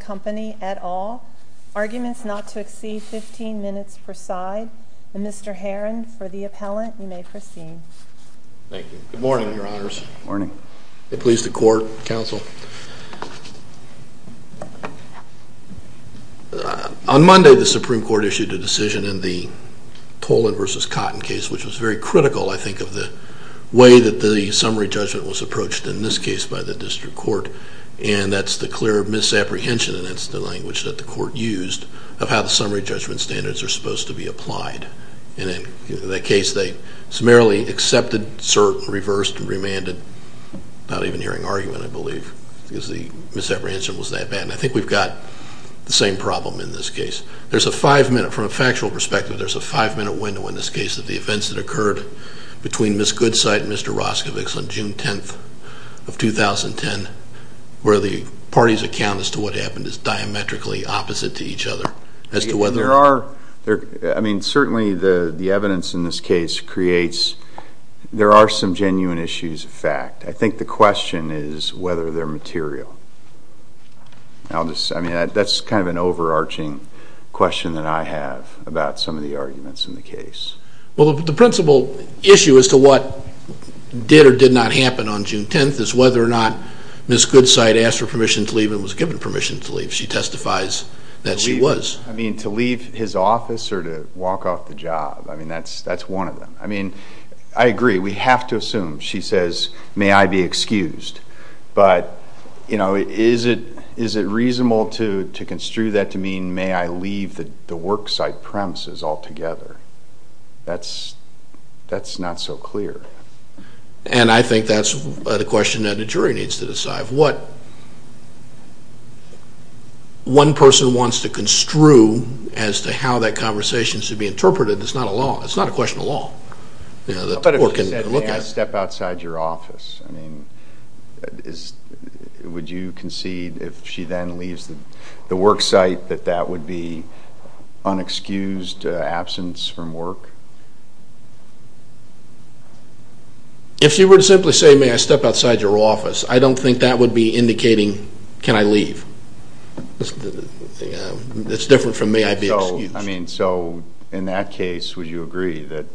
Company, et al. Arguments not to exceed 15 minutes per side. Mr. Herron, for the appellant, you may proceed. Thank you. Good morning, your honors. Good morning. Please, the court, counsel. On Monday, the Supreme Court issued a decision as to whether or not to amend the Toland v. Cotton case, which was very critical, I think, of the way that the summary judgment was approached in this case by the district court. And that's the clear misapprehension, and that's the language that the court used, of how the summary judgment standards are supposed to be applied. And in that case, they summarily accepted, cert, and reversed, and remanded, not even hearing argument, I believe, because the misapprehension was that bad. And I think we've got the same problem in this case. There's a 5-minute, from a factual perspective, there's a 5-minute window in this case of the events that occurred between Ms. Goodsite and Mr. Roscovich on June 10th of 2010, where the parties' account as to what happened is diametrically opposite to each other, as to whether... There are, I mean, certainly the evidence in this case creates, there are some genuine issues of fact. I think the that's kind of an overarching question that I have about some of the arguments in the case. Well, the principal issue as to what did or did not happen on June 10th is whether or not Ms. Goodsite asked for permission to leave and was given permission to leave. She testifies that she was. I mean, to leave his office or to walk off the job, I mean, that's one of them. I mean, I agree, we have to assume, she says, may I be excused. But, you know, is it reasonable to construe that to mean may I leave the worksite premises altogether? That's not so clear. And I think that's the question that a jury needs to decide. What one person wants to construe as to how that conversation should be interpreted is not a law. But if she said may I step outside your office, I mean, would you concede if she then leaves the worksite that that would be unexcused absence from work? If she were to simply say may I step outside your office, I don't think that would be indicating can I leave. It's different from may I be excused. I mean, so in that case, would you agree that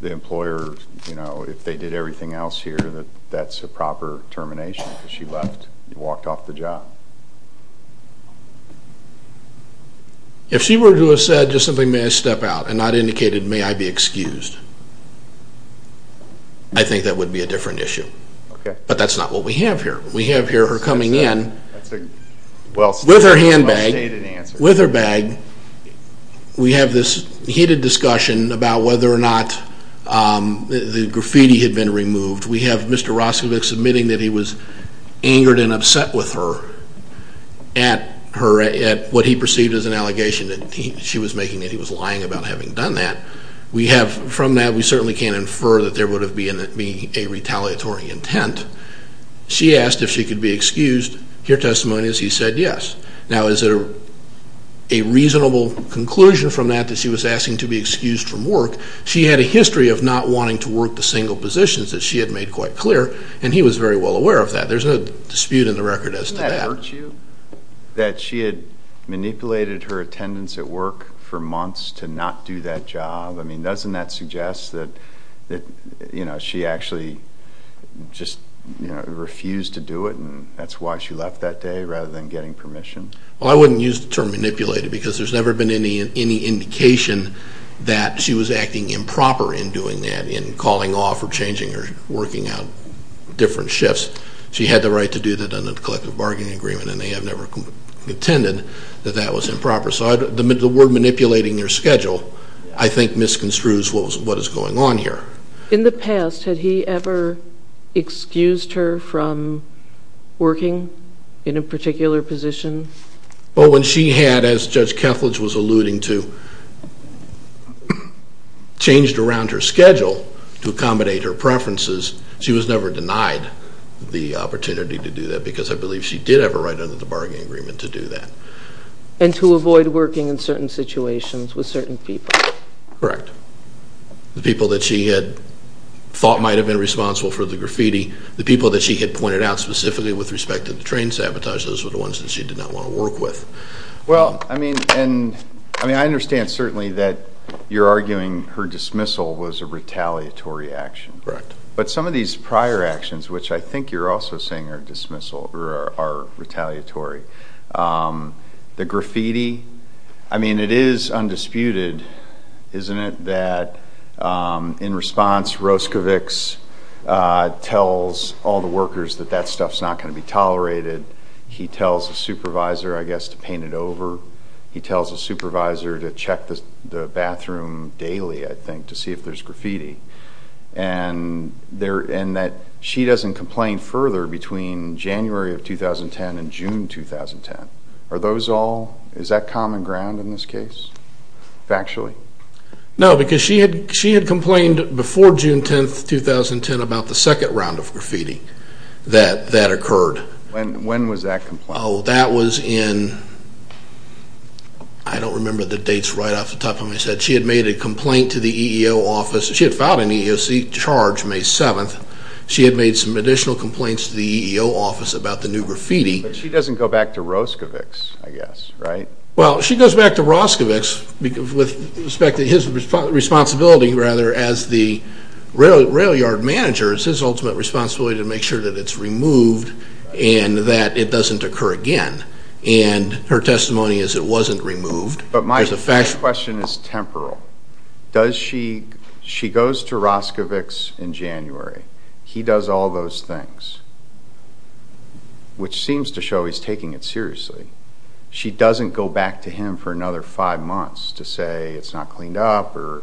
the employer, you know, if they did everything else here, that that's a proper termination because she left, walked off the job? If she were to have said just simply may I step out and not indicated may I be excused, I think that would be a different issue. But that's not what we have here. We have here her coming in with her handbag, with her bag. We have this heated discussion about whether or not the graffiti had been removed. We have Mr. Roscovich submitting that he was angered and upset with her at what he perceived as an allegation that she was making, that he was lying about having done that. We have from that, we certainly can't infer that there would have been a retaliatory intent. She asked if she could be excused. Her testimony is he said yes. Now is it a reasonable conclusion from that that she was asking to be excused from work? She had a history of not wanting to work the single positions that she had made quite clear, and he was very well aware of that. There's no dispute in the record as to that. That she had manipulated her attendance at work for months to not do that job. I mean, doesn't that suggest that she actually just refused to do it and that's why she left that day rather than getting permission? Well, I wouldn't use the term manipulated because there's never been any indication that she was acting improper in doing that, in calling off or changing or working out different shifts. She had the right to do that under the collective bargaining agreement and they have never contended that that was improper. So the word manipulating your schedule, I think misconstrues what is going on here. In the past, had he ever excused her from working in a particular position? Well, when she had, as Judge Kethledge was alluding to, changed around her schedule to accommodate her preferences, she was never denied the opportunity to do that because I believe she did have a right under the bargaining agreement to do that. And to avoid working in certain situations with certain people? Correct. The people that she had thought might have been responsible for the graffiti, the people that she had pointed out specifically with respect to the train sabotage, those were the ones that she did not want to work with. Well, I mean, I understand certainly that you're arguing her dismissal was a retaliatory action. Correct. But some of these prior actions, which I think you're also saying are retaliatory, the graffiti, I mean, it is undisputed, isn't it, that in response, Roscovics tells all the workers that that stuff's not going to be tolerated. He tells the supervisor, I guess, to paint it over. He tells the supervisor to check the bathroom daily, I think, to see if there's graffiti. And that she doesn't complain further between January of 2010 and June 2010. Are those all, is that common ground in this case, factually? No, because she had complained before June 10, 2010 about the second round of graffiti that occurred. When was that complaint? Oh, that was in, I don't remember the dates right off the top of my head. She had made a complaint to the EEO office. She had filed an EEOC charge May 7th. She had made some additional complaints to the EEO office about the new graffiti. But she doesn't go back to Roscovics with respect to his responsibility, rather, as the rail yard manager. It's his ultimate responsibility to make sure that it's removed and that it doesn't occur again. And her testimony is it wasn't removed. But my question is temporal. Does she, she goes to Roscovics in January. He does all those things. Which seems to show he's taking it seriously. She doesn't go back to him for another five months to say it's not cleaned up or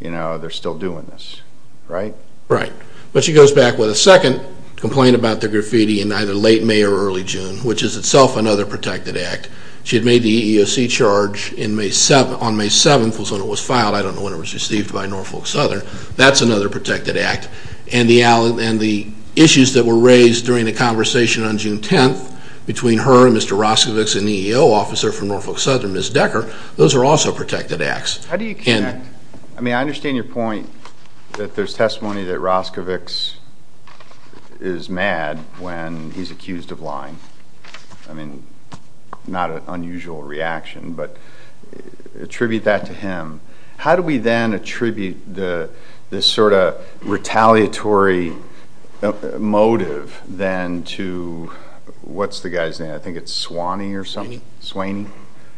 they're still doing this. Right? Right. But she goes back with a second complaint about the graffiti in either late May or early June, which is itself another protected act. She had made the EEOC charge on May 7th was when it was filed. I don't know when it was received by Norfolk Southern. That's another protected act. And the issues that were raised during the conversation on June 10th between her and Mr. Roscovics and the EEO officer from Norfolk Southern, Ms. Decker, those are also protected acts. How do you connect? I mean, I understand your point that there's testimony that Roscovics is mad when he's accused of lying. I mean, not an unusual reaction, but attribute that to him. How do we then attribute this sort of retaliatory motive then to what's the guy's name? I think it's Swaney or something? Swaney?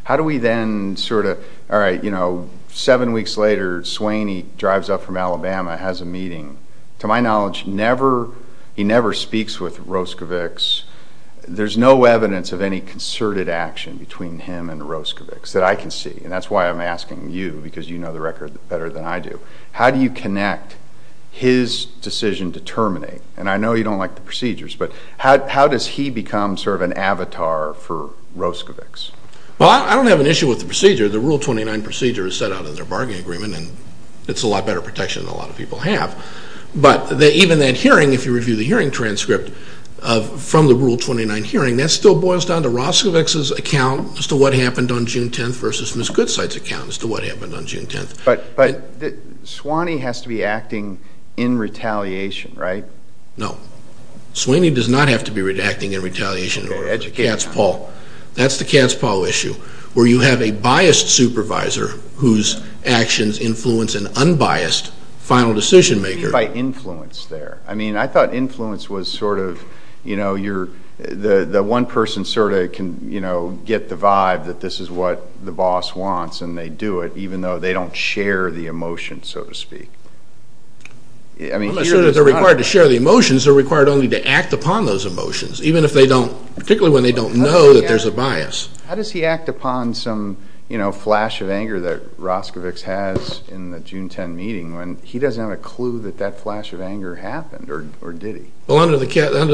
How do we then sort of, all right, you know, seven weeks later, Swaney drives up from Alabama, has a meeting. To my knowledge, he never speaks with Roscovics. There's no evidence of any concerted action between him and Roscovics that I can see. And that's why I'm asking you, because you know the record better than I do. How do you connect his decision to terminate? And I know you don't like the procedures, but how does he become sort of an avatar for Roscovics? Well, I don't have an issue with the procedure. The Rule 29 procedure is set out in their bargaining agreement, and it's a lot better protection than a lot of people have. But even that hearing, if you review the hearing transcript from the Rule 29 hearing, that still boils down to Roscovics' account as to what happened on June 10th versus Ms. Goodside's account as to what happened on June 10th. But Swaney has to be acting in retaliation, right? No. Swaney does not have to be acting in retaliation in order for the cat's paw. That's the cat's paw issue, where you have a biased supervisor whose actions influence an unbiased final decision maker. What do you mean by influence there? I mean, I thought influence was sort of, you know, the one person sort of can get the vibe that this is what the boss wants and they do it, even though they don't share the emotion, so to speak. I'm not saying that they're required to share the emotions. They're required only to act upon those emotions, even if they don't know that there's a bias. How does he act upon some, you know, flash of anger that Roscovics has in the June 10 meeting when he doesn't have a clue that that flash of anger happened, or did he? Well, under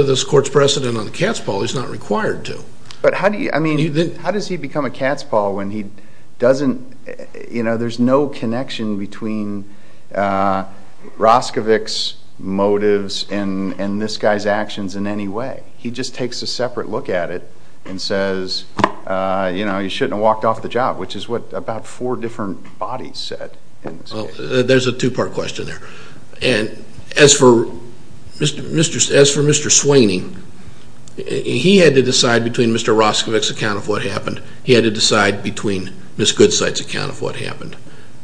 this court's precedent on the cat's paw, he's not required to. But how do you, I mean, how does he become a cat's paw when he doesn't, you know, there's no connection between Roscovics' motives and this guy's actions in any way? He just takes a separate look at it and says, you know, you shouldn't have walked off the job, which is what about four different bodies said. Well, there's a two-part question there. As for Mr. Sweeney, he had to decide between Mr. Roscovics' account of what happened, he had to decide between Ms. Goodside's account of what happened.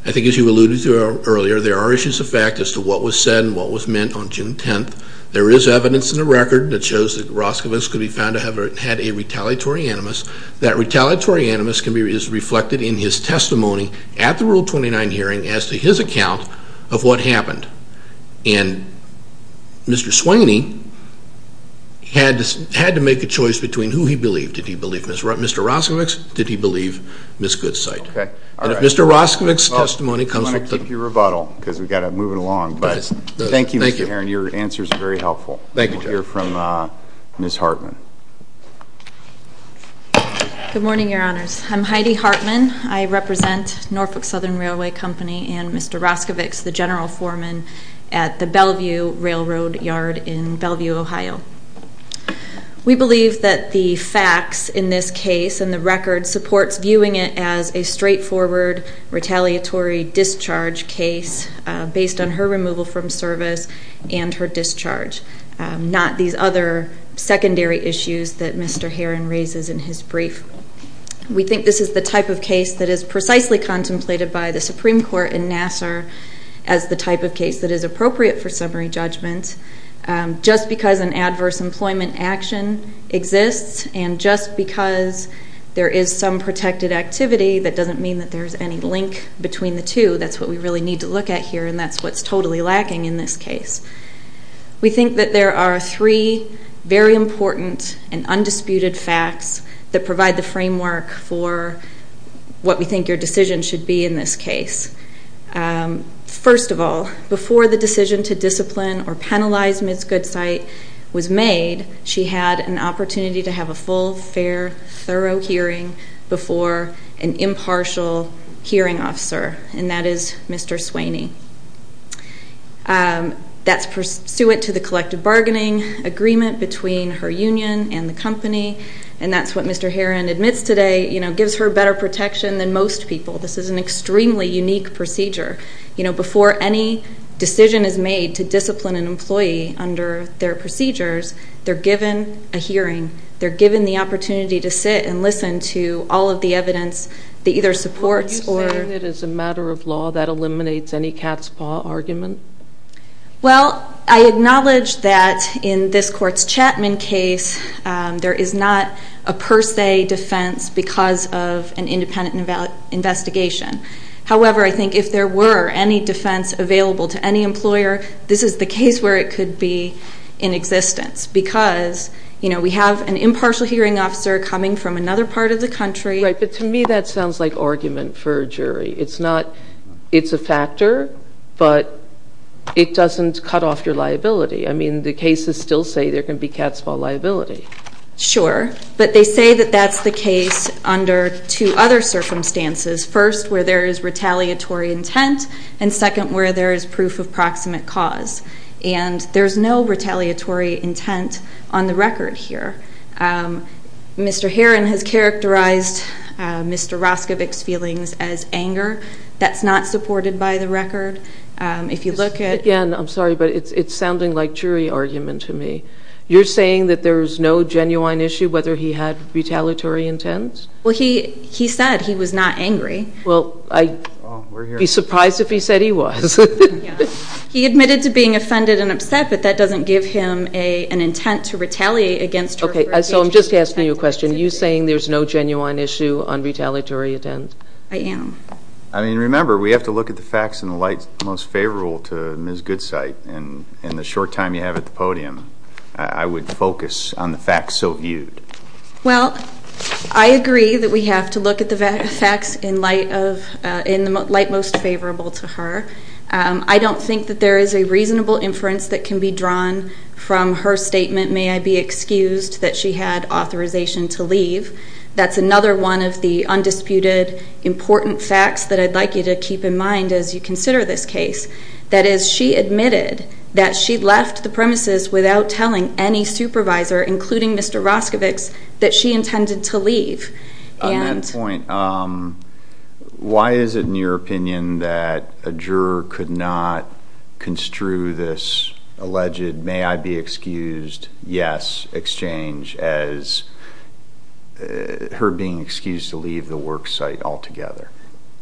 I think as you alluded to earlier, there are issues of fact as to what was said and what was meant on June 10th. There is evidence in the record that shows that Roscovics could be found to have had a retaliatory animus. That retaliatory animus is reflected in his testimony at the Rule 29 hearing as to his account of what happened. And Mr. Sweeney had to make a choice between who he believed. Did he believe Mr. Roscovics? Did he believe Ms. Goodside? And if Mr. Roscovics' testimony comes from... I want to keep your rebuttal because we've got to move it along. Thank you, Mr. Herron. Your answers are very helpful. We'll hear from Ms. Hartman. Good morning, Your Honors. I'm Heidi Hartman. I represent Norfolk Southern Railway Company and Mr. Roscovics, the general foreman at the Bellevue Railroad Yard in Bellevue, Ohio. We believe that the facts in this case and the record supports viewing it as a straightforward retaliatory discharge case based on her removal from service and her discharge, not these other secondary issues that Mr. Herron raises in his brief. We think this is the type of case that is precisely contemplated by the Supreme Court in Nassar as the type of case that is appropriate for summary judgment. Just because an adverse employment action exists and just because there is some protected activity, that doesn't mean that there's any link between the two. That's what we really need to look at here and that's what's totally lacking in this case. We think that there are three very important and undisputed facts that provide the framework for what we think your decision should be in this case. First of all, before the decision to discipline or penalize Ms. Goodsight was made, she had an opportunity to have a full, fair, thorough hearing before an impartial hearing officer, and that is Mr. Sweeney. That's pursuant to the collective bargaining agreement between her union and the company, and that's what Mr. Herron admits today gives her better protection than most people. This is an extremely unique procedure. Before any decision is made to discipline an employee under their procedures, they're given a hearing. They're given the opportunity to sit and listen to all of the evidence that either supports or... Well, I acknowledge that in this court's Chapman case, there is not a per se defense because of an independent investigation. However, I think if there were any defense available to any employer, this is the case where it could be in existence because we have an impartial hearing officer coming from another part of the country... Right, but to me that sounds like argument for a jury. It's a factor, but it doesn't cut off your liability. I mean, the cases still say there can be cat's paw liability. Sure, but they say that that's the case under two other circumstances. First, where there is retaliatory intent, and second, where there is proof of proximate cause, and there's no retaliatory intent on the record here. Mr. Heron has characterized Mr. Roskovich's feelings as anger. That's not supported by the record. If you look at... Again, I'm sorry, but it's sounding like jury argument to me. You're saying that there's no genuine issue whether he had retaliatory intent? Well, he said he was not angry. Well, I'd be surprised if he said he was. He admitted to being offended and upset, but that doesn't give him an intent to retaliate against... Okay, so I'm just asking you a question. Are you saying there's no genuine issue on retaliatory intent? I am. I mean, remember, we have to look at the facts in the light most favorable to Ms. Goodsight, and in the short time you have at the podium, I would focus on the facts so viewed. Well, I agree that we have to look at the facts in the light most favorable to her. I don't think that there is a reasonable inference that can be drawn from her statement, may I be excused, that she had authorization to leave. That's another one of the undisputed important facts that I'd like you to keep in mind as you consider this case. That is, she admitted that she left the premises without telling any supervisor, including Mr. Roskovich's, that she intended to leave. On that point, why is it in your opinion that a juror could not construe this alleged may I be excused, yes, exchange as her being excused to leave the work site altogether?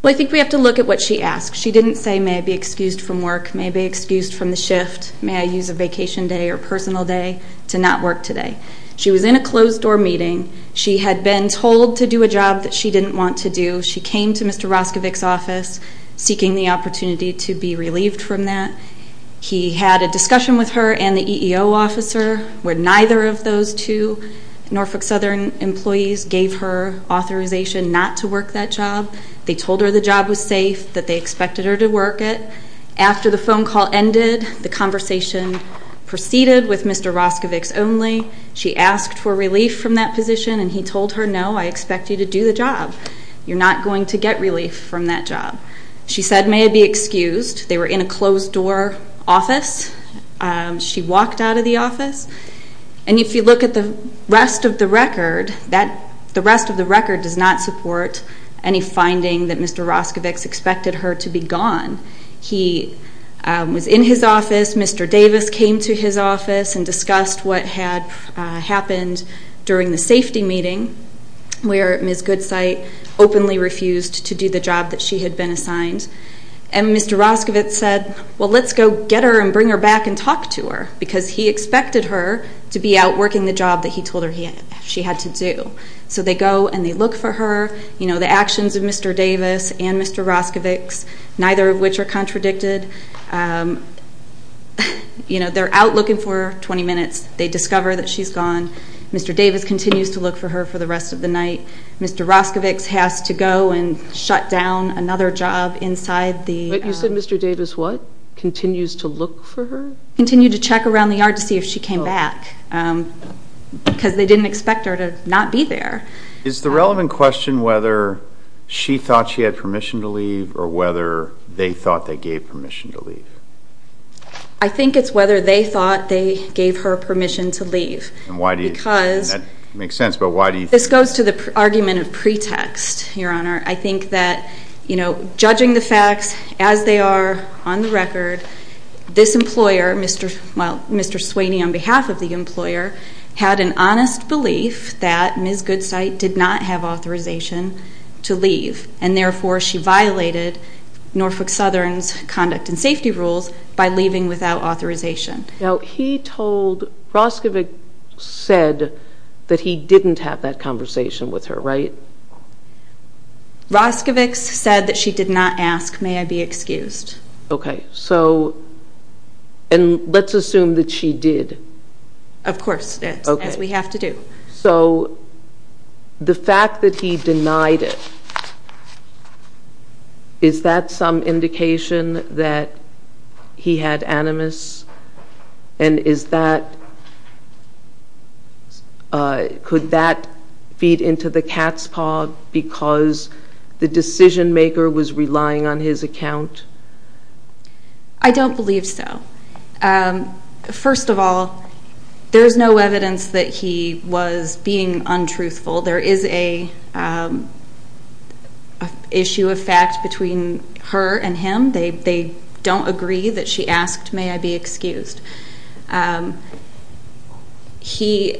Well, I think we have to look at what she asked. She didn't say may I be excused from work, may I be excused from the shift, may I use a vacation day or personal day to not work today. She was in a closed door meeting. She had been told to do a job that she didn't want to do. She came to Mr. Roskovich's office seeking the opportunity to be relieved from that. He had a discussion with her and the EEO officer where neither of those two Norfolk Southern employees gave her authorization not to work that job. They told her the job was safe, that they were seated with Mr. Roskovich's only. She asked for relief from that position and he told her no, I expect you to do the job. You're not going to get relief from that job. She said may I be excused. They were in a closed door office. She walked out of the office. And if you look at the rest of the record, that the rest of the record does not support any finding that Mr. Roskovich's expected her to be gone. He was in his office. Mr. Davis came to his office and discussed what had happened during the safety meeting where Ms. Goodsight openly refused to do the job that she had been assigned. And Mr. Roskovich said well let's go get her and bring her back and talk to her because he expected her to be out working the job that he told her she had to do. So they go and they look for her. The actions of Mr. Davis and Mr. Roskovich's neither of which are contradicted. They're out looking for her 20 minutes. They discover that she's gone. Mr. Davis continues to look for her for the rest of the night. Mr. Roskovich's has to go and shut down another job inside the... But you said Mr. Davis what? Continues to look for her? Continued to check around the yard to see if she came back because they didn't expect her to not be there. Is the relevant question whether she thought she had permission to leave or whether they thought they gave permission to leave? I think it's whether they thought they gave her permission to leave. And why do you think? Because... It makes sense but why do you think? This goes to the argument of pretext, Your Honor. I think that judging the facts as they are on the record, this employer, Mr. Sweeney on behalf of the employer, had an honest belief that Ms. Goodsight did not have authorization to leave and therefore she violated Norfolk Southern's conduct and safety rules by leaving without authorization. Now he told... Roskovich said that he didn't have that conversation with her, right? Roskovich said that she did not ask. May I be excused? Okay. So... And let's assume that she did. Of course. As we have to do. So the fact that he denied it, is that some indication that he had animus and is that... because the decision maker was relying on his account? I don't believe so. First of all, there is no evidence that he was being untruthful. There is a issue of fact between her and him. They don't agree that she asked, may I be excused? He...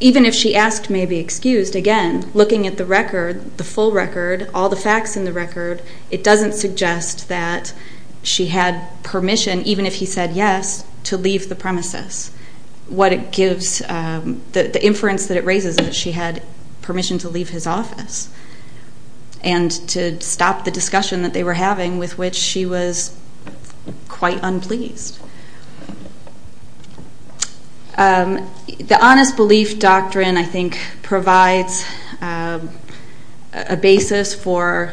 even if she asked, may I be excused, again, looking at the record, the full record, all the facts in the record, it doesn't suggest that she had permission, even if he said yes, to leave the premises. What it gives... the inference that it raises is that she had permission to leave his office. And to stop the discussion that they were having with which she was quite unpleased. The Honest Belief Doctrine, I think, provides a basis for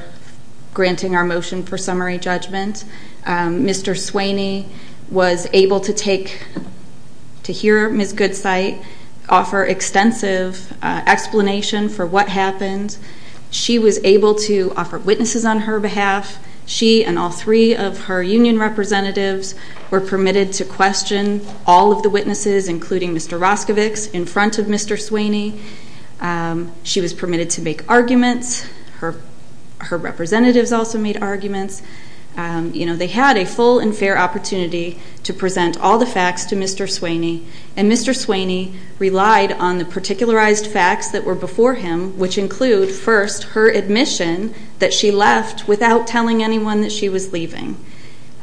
granting our motion for summary judgment. Mr. Swaney was able to take... to hear Ms. Goodsight offer extensive explanation for what happened. She was able to offer witnesses on her behalf. She and all three of her union representatives were permitted to question all of the witnesses, including Mr. Roscovics, in front of Mr. Swaney. She was permitted to make arguments. Her representatives also made arguments. They had a full and fair opportunity to present all the facts to Mr. Swaney. And Mr. Swaney relied on the particularized facts that were before him, which include, first, her admission that she left without telling anyone that she was leaving.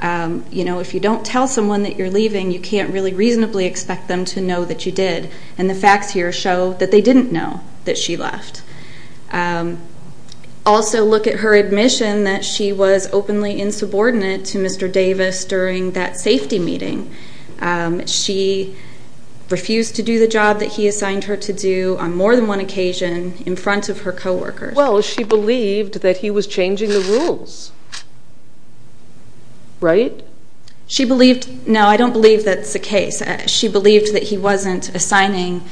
You know, if you don't tell someone that you're leaving, you can't really reasonably expect them to know that you did. And the facts here show that they didn't know that she left. Also, look at her admission that she was openly insubordinate to Mr. Davis during that safety meeting. She refused to do the job that he assigned her to do on more than one occasion in front of her co-workers. Well, she believed that he was changing the rules. Right? She believed... No, I don't believe that's the case. She believed that he wasn't assigning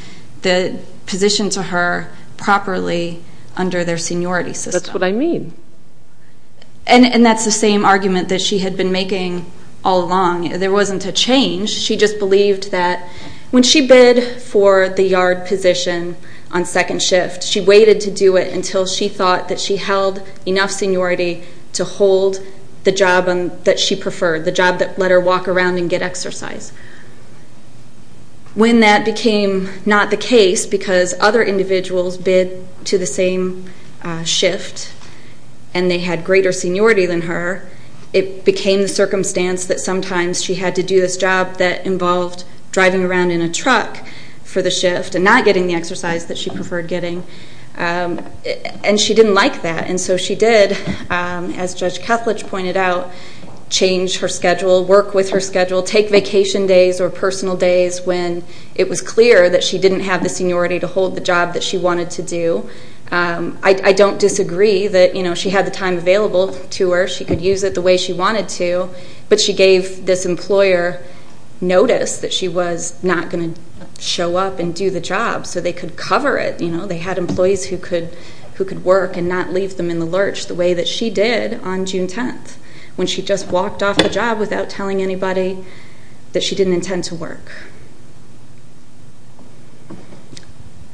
the position to her properly under their seniority system. That's what I mean. And that's the same argument that she had been making all along. There wasn't a change. She just believed that when she bid for the yard position on second shift, she waited to do it until she thought that she held enough seniority to hold the job that she preferred, the job that let her walk around and get exercise. When that became not the case because other individuals bid to the same shift and they had greater seniority than her, it became the circumstance that sometimes she had to do this job that involved driving around in a truck for the shift and not getting the exercise that she preferred getting. And she didn't like that. And so she did, as Judge said, there were days, probation days or personal days when it was clear that she didn't have the seniority to hold the job that she wanted to do. I don't disagree that she had the time available to her. She could use it the way she wanted to, but she gave this employer notice that she was not going to show up and do the job so they could cover it. They had employees who could work and not leave them in the lurch the way that she did on June 10th when she just walked off the job without telling anybody that she didn't intend to work.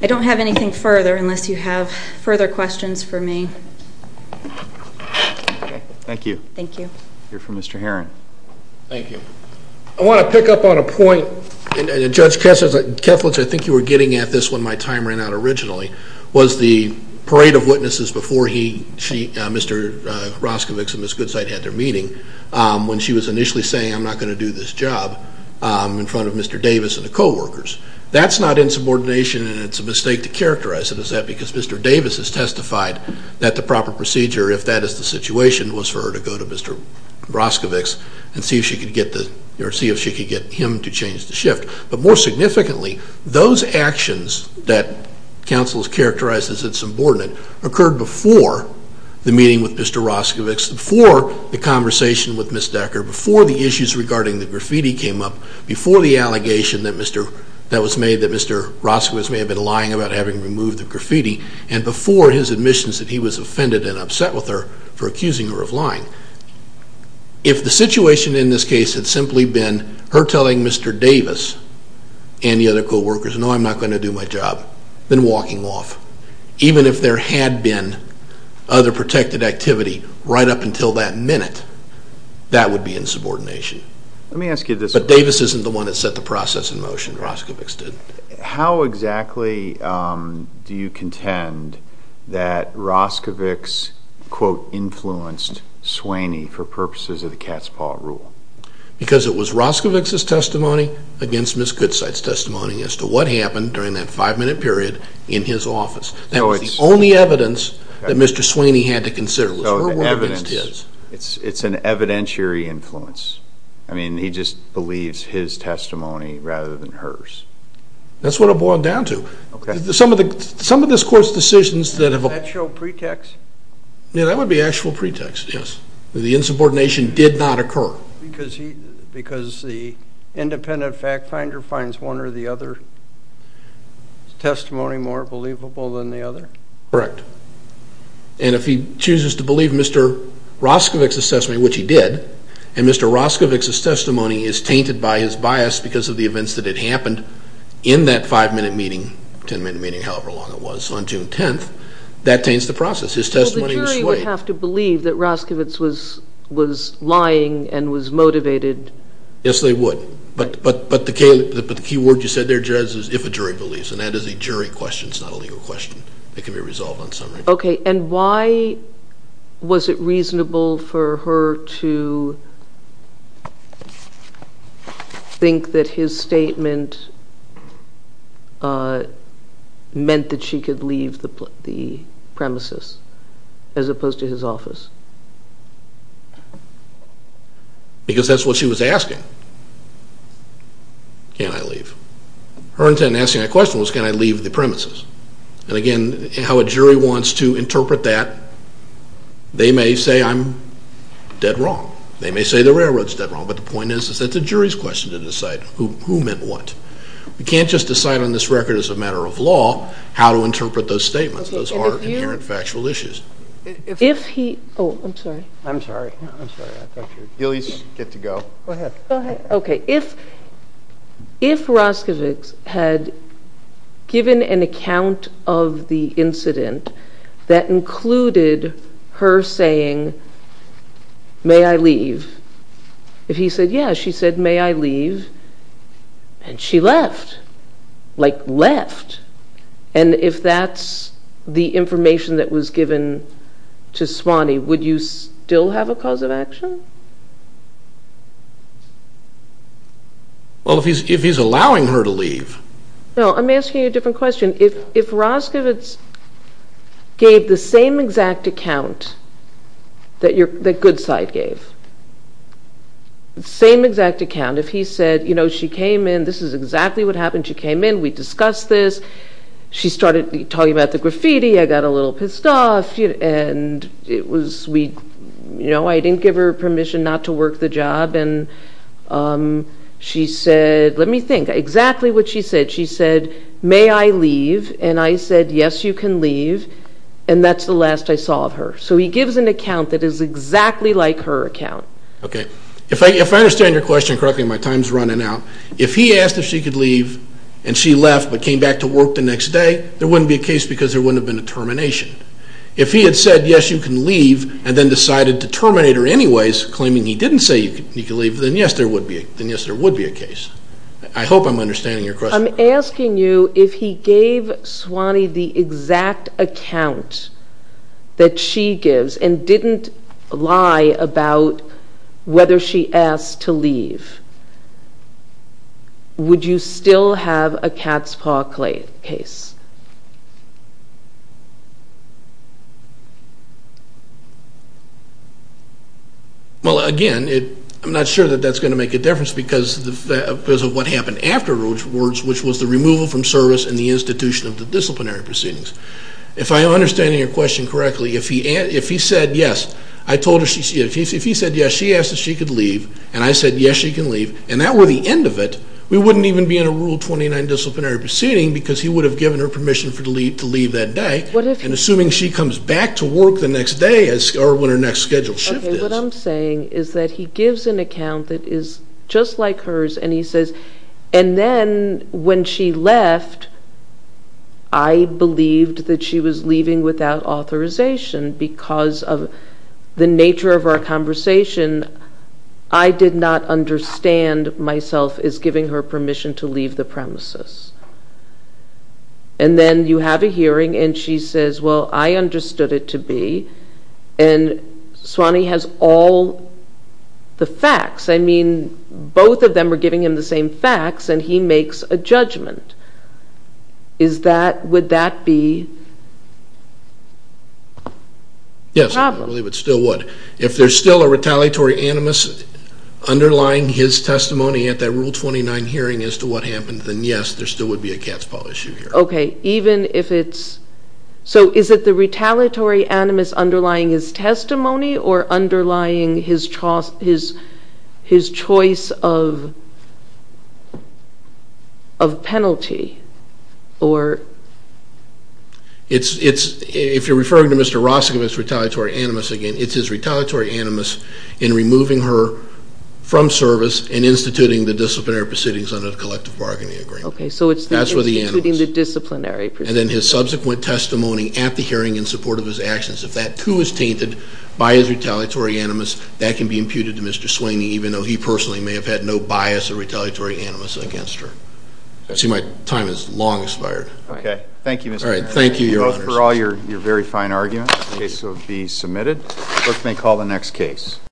I don't have anything further unless you have further questions for me. Thank you. Thank you. We'll hear from Mr. Herron. Thank you. I want to pick up on a point that Judge Kessler, I think you were getting at this when my time ran out originally, was the parade of witnesses before Mr. Roscovics and Ms. Goodside had their meeting when she was initially saying I'm not going to do this job in front of Mr. Davis and the coworkers. That's not insubordination and it's a mistake to characterize it as that because Mr. Davis has testified that the proper procedure, if that is the situation, was for her to go to Mr. Roscovics and see if she could get him to change the shift. But more significantly, those actions that counsel has characterized as insubordinate occurred before the meeting with Mr. Roscovics, before the conversation with Ms. Decker, before the issues regarding the graffiti came up, before the allegation that was made that Mr. Roscovics may have been lying about having removed the graffiti, and before his admissions that he was offended and upset with her for telling Mr. Davis and the other coworkers, no I'm not going to do my job, then walking off. Even if there had been other protected activity right up until that minute, that would be insubordination. But Davis isn't the one that set the process in motion, Roscovics did. How exactly do you contend that Roscovics quote influenced Sweeney for purposes of the cat's paw rule? Because it was Roscovics' testimony against Ms. Goodside's testimony as to what happened during that five minute period in his office. That was the only evidence that Mr. Sweeney had to consider, it was her word against his. It's an evidentiary influence. I mean, he just believes his testimony rather than hers. That's what it boiled down to. Some of this court's decisions that have... Is that your pretext? Yeah, that would be actual pretext, yes. The insubordination did not occur. Because the independent fact finder finds one or the other testimony more believable than the other? Correct. And if he chooses to believe Mr. Roscovics' assessment, which he did, and Mr. Roscovics' testimony is tainted by his bias because of the events that had happened in that five minute meeting, ten minute meeting, however long it was, on June 10th, that taints the process. His testimony was swayed. Well, the jury would have to believe that Roscovics was lying and was motivated. Yes, they would. But the key word you said there, Judge, is if a jury believes. And that is a jury question, it's not a legal question. It can be resolved on summary. Okay. And why was it reasonable for her to think that his statement meant that she could leave the premises as opposed to his office? Because that's what she was asking. Can I leave? Her intent in asking that question was can I leave the premises? And again, how a jury wants to interpret that, they may say I'm dead wrong. They may say the railroad's dead wrong. But the point is that it's a jury's question to decide who meant what. We can't just decide on this record as a matter of law how to interpret those statements. Those are inherent factual issues. If he, oh, I'm sorry. I'm sorry. I thought you were, Gillies, get to go. Go ahead. Okay. If Raskovics had given an account of the incident that included her saying may I leave? If he said yeah, she said may I leave? And she left. Like left. And if that's the information that was given to Swanee, would you still have a cause of action? Well, if he's allowing her to leave. No, I'm asking you a different question. If Raskovics gave the same exact account that Goodside gave, the same exact account, if he said, you know, she came in, this is exactly what happened. She came in. We discussed this. She started talking about the graffiti. I got a little pissed off. And it was, you know, I didn't give her permission not to work the job. And she said, let me think, exactly what she said. She said, may I leave? And I said, yes, you can leave. And that's the last I saw of her. So he gives an account that is exactly like her account. Okay. If I understand your question correctly, my time's running out. If he asked if she could leave and she left but came back to work the next day, there wouldn't be a case because there wouldn't have been a termination. If he had said, yes, you can leave, and then decided to terminate her anyways, claiming he didn't say you could leave, then yes, there would be a case. I hope I'm understanding your question. I'm asking you if he gave Swanee the exact account that she gives and didn't lie about whether she asked to leave, would you still have a cat's paw case? Well, again, I'm not sure that that's going to make a difference because of what happened afterwards, which was the removal from service and the institution of the disciplinary proceedings. If I understand correctly, yes, she asked if she could leave, and I said, yes, she can leave, and that were the end of it, we wouldn't even be in a Rule 29 disciplinary proceeding because he would have given her permission to leave that day. And assuming she comes back to work the next day or when her next schedule shift is. Okay. What I'm saying is that he gives an account that is just like hers and he says, and then when she left, I believed that she was leaving without authorization because of the nature of our conversation. I did not understand myself as giving her permission to leave the premises. And then you have a hearing and she says, well, I understood it to be, and Swanee has all the facts. I mean, both of them are giving him the same facts and he makes a judgment. Is that, would that be a problem? Yes, I believe it still would. If there's still a retaliatory animus underlying his testimony at that Rule 29 hearing as to what happened, then yes, there still would be a cat's paw issue here. Okay. Even if it's, so is it the retaliatory animus underlying his testimony or underlying his choice of penalty or... It's, if you're referring to Mr. Rosick of his retaliatory animus again, it's his retaliatory animus in removing her from service and instituting the disciplinary proceedings under the collective bargaining agreement. Okay, so it's the instituting the disciplinary proceedings. And then his subsequent testimony at the hearing in support of his actions. If that too is tainted by his retaliatory animus, that can be imputed to Mr. Swanee, even though he personally may have had no bias or retaliatory animus against her. I see my time has long expired. Okay. Thank you, Mr. Chairman. Thank you, Your Honors. Those were all your very fine arguments. The case will be submitted. Clerk may call the next case.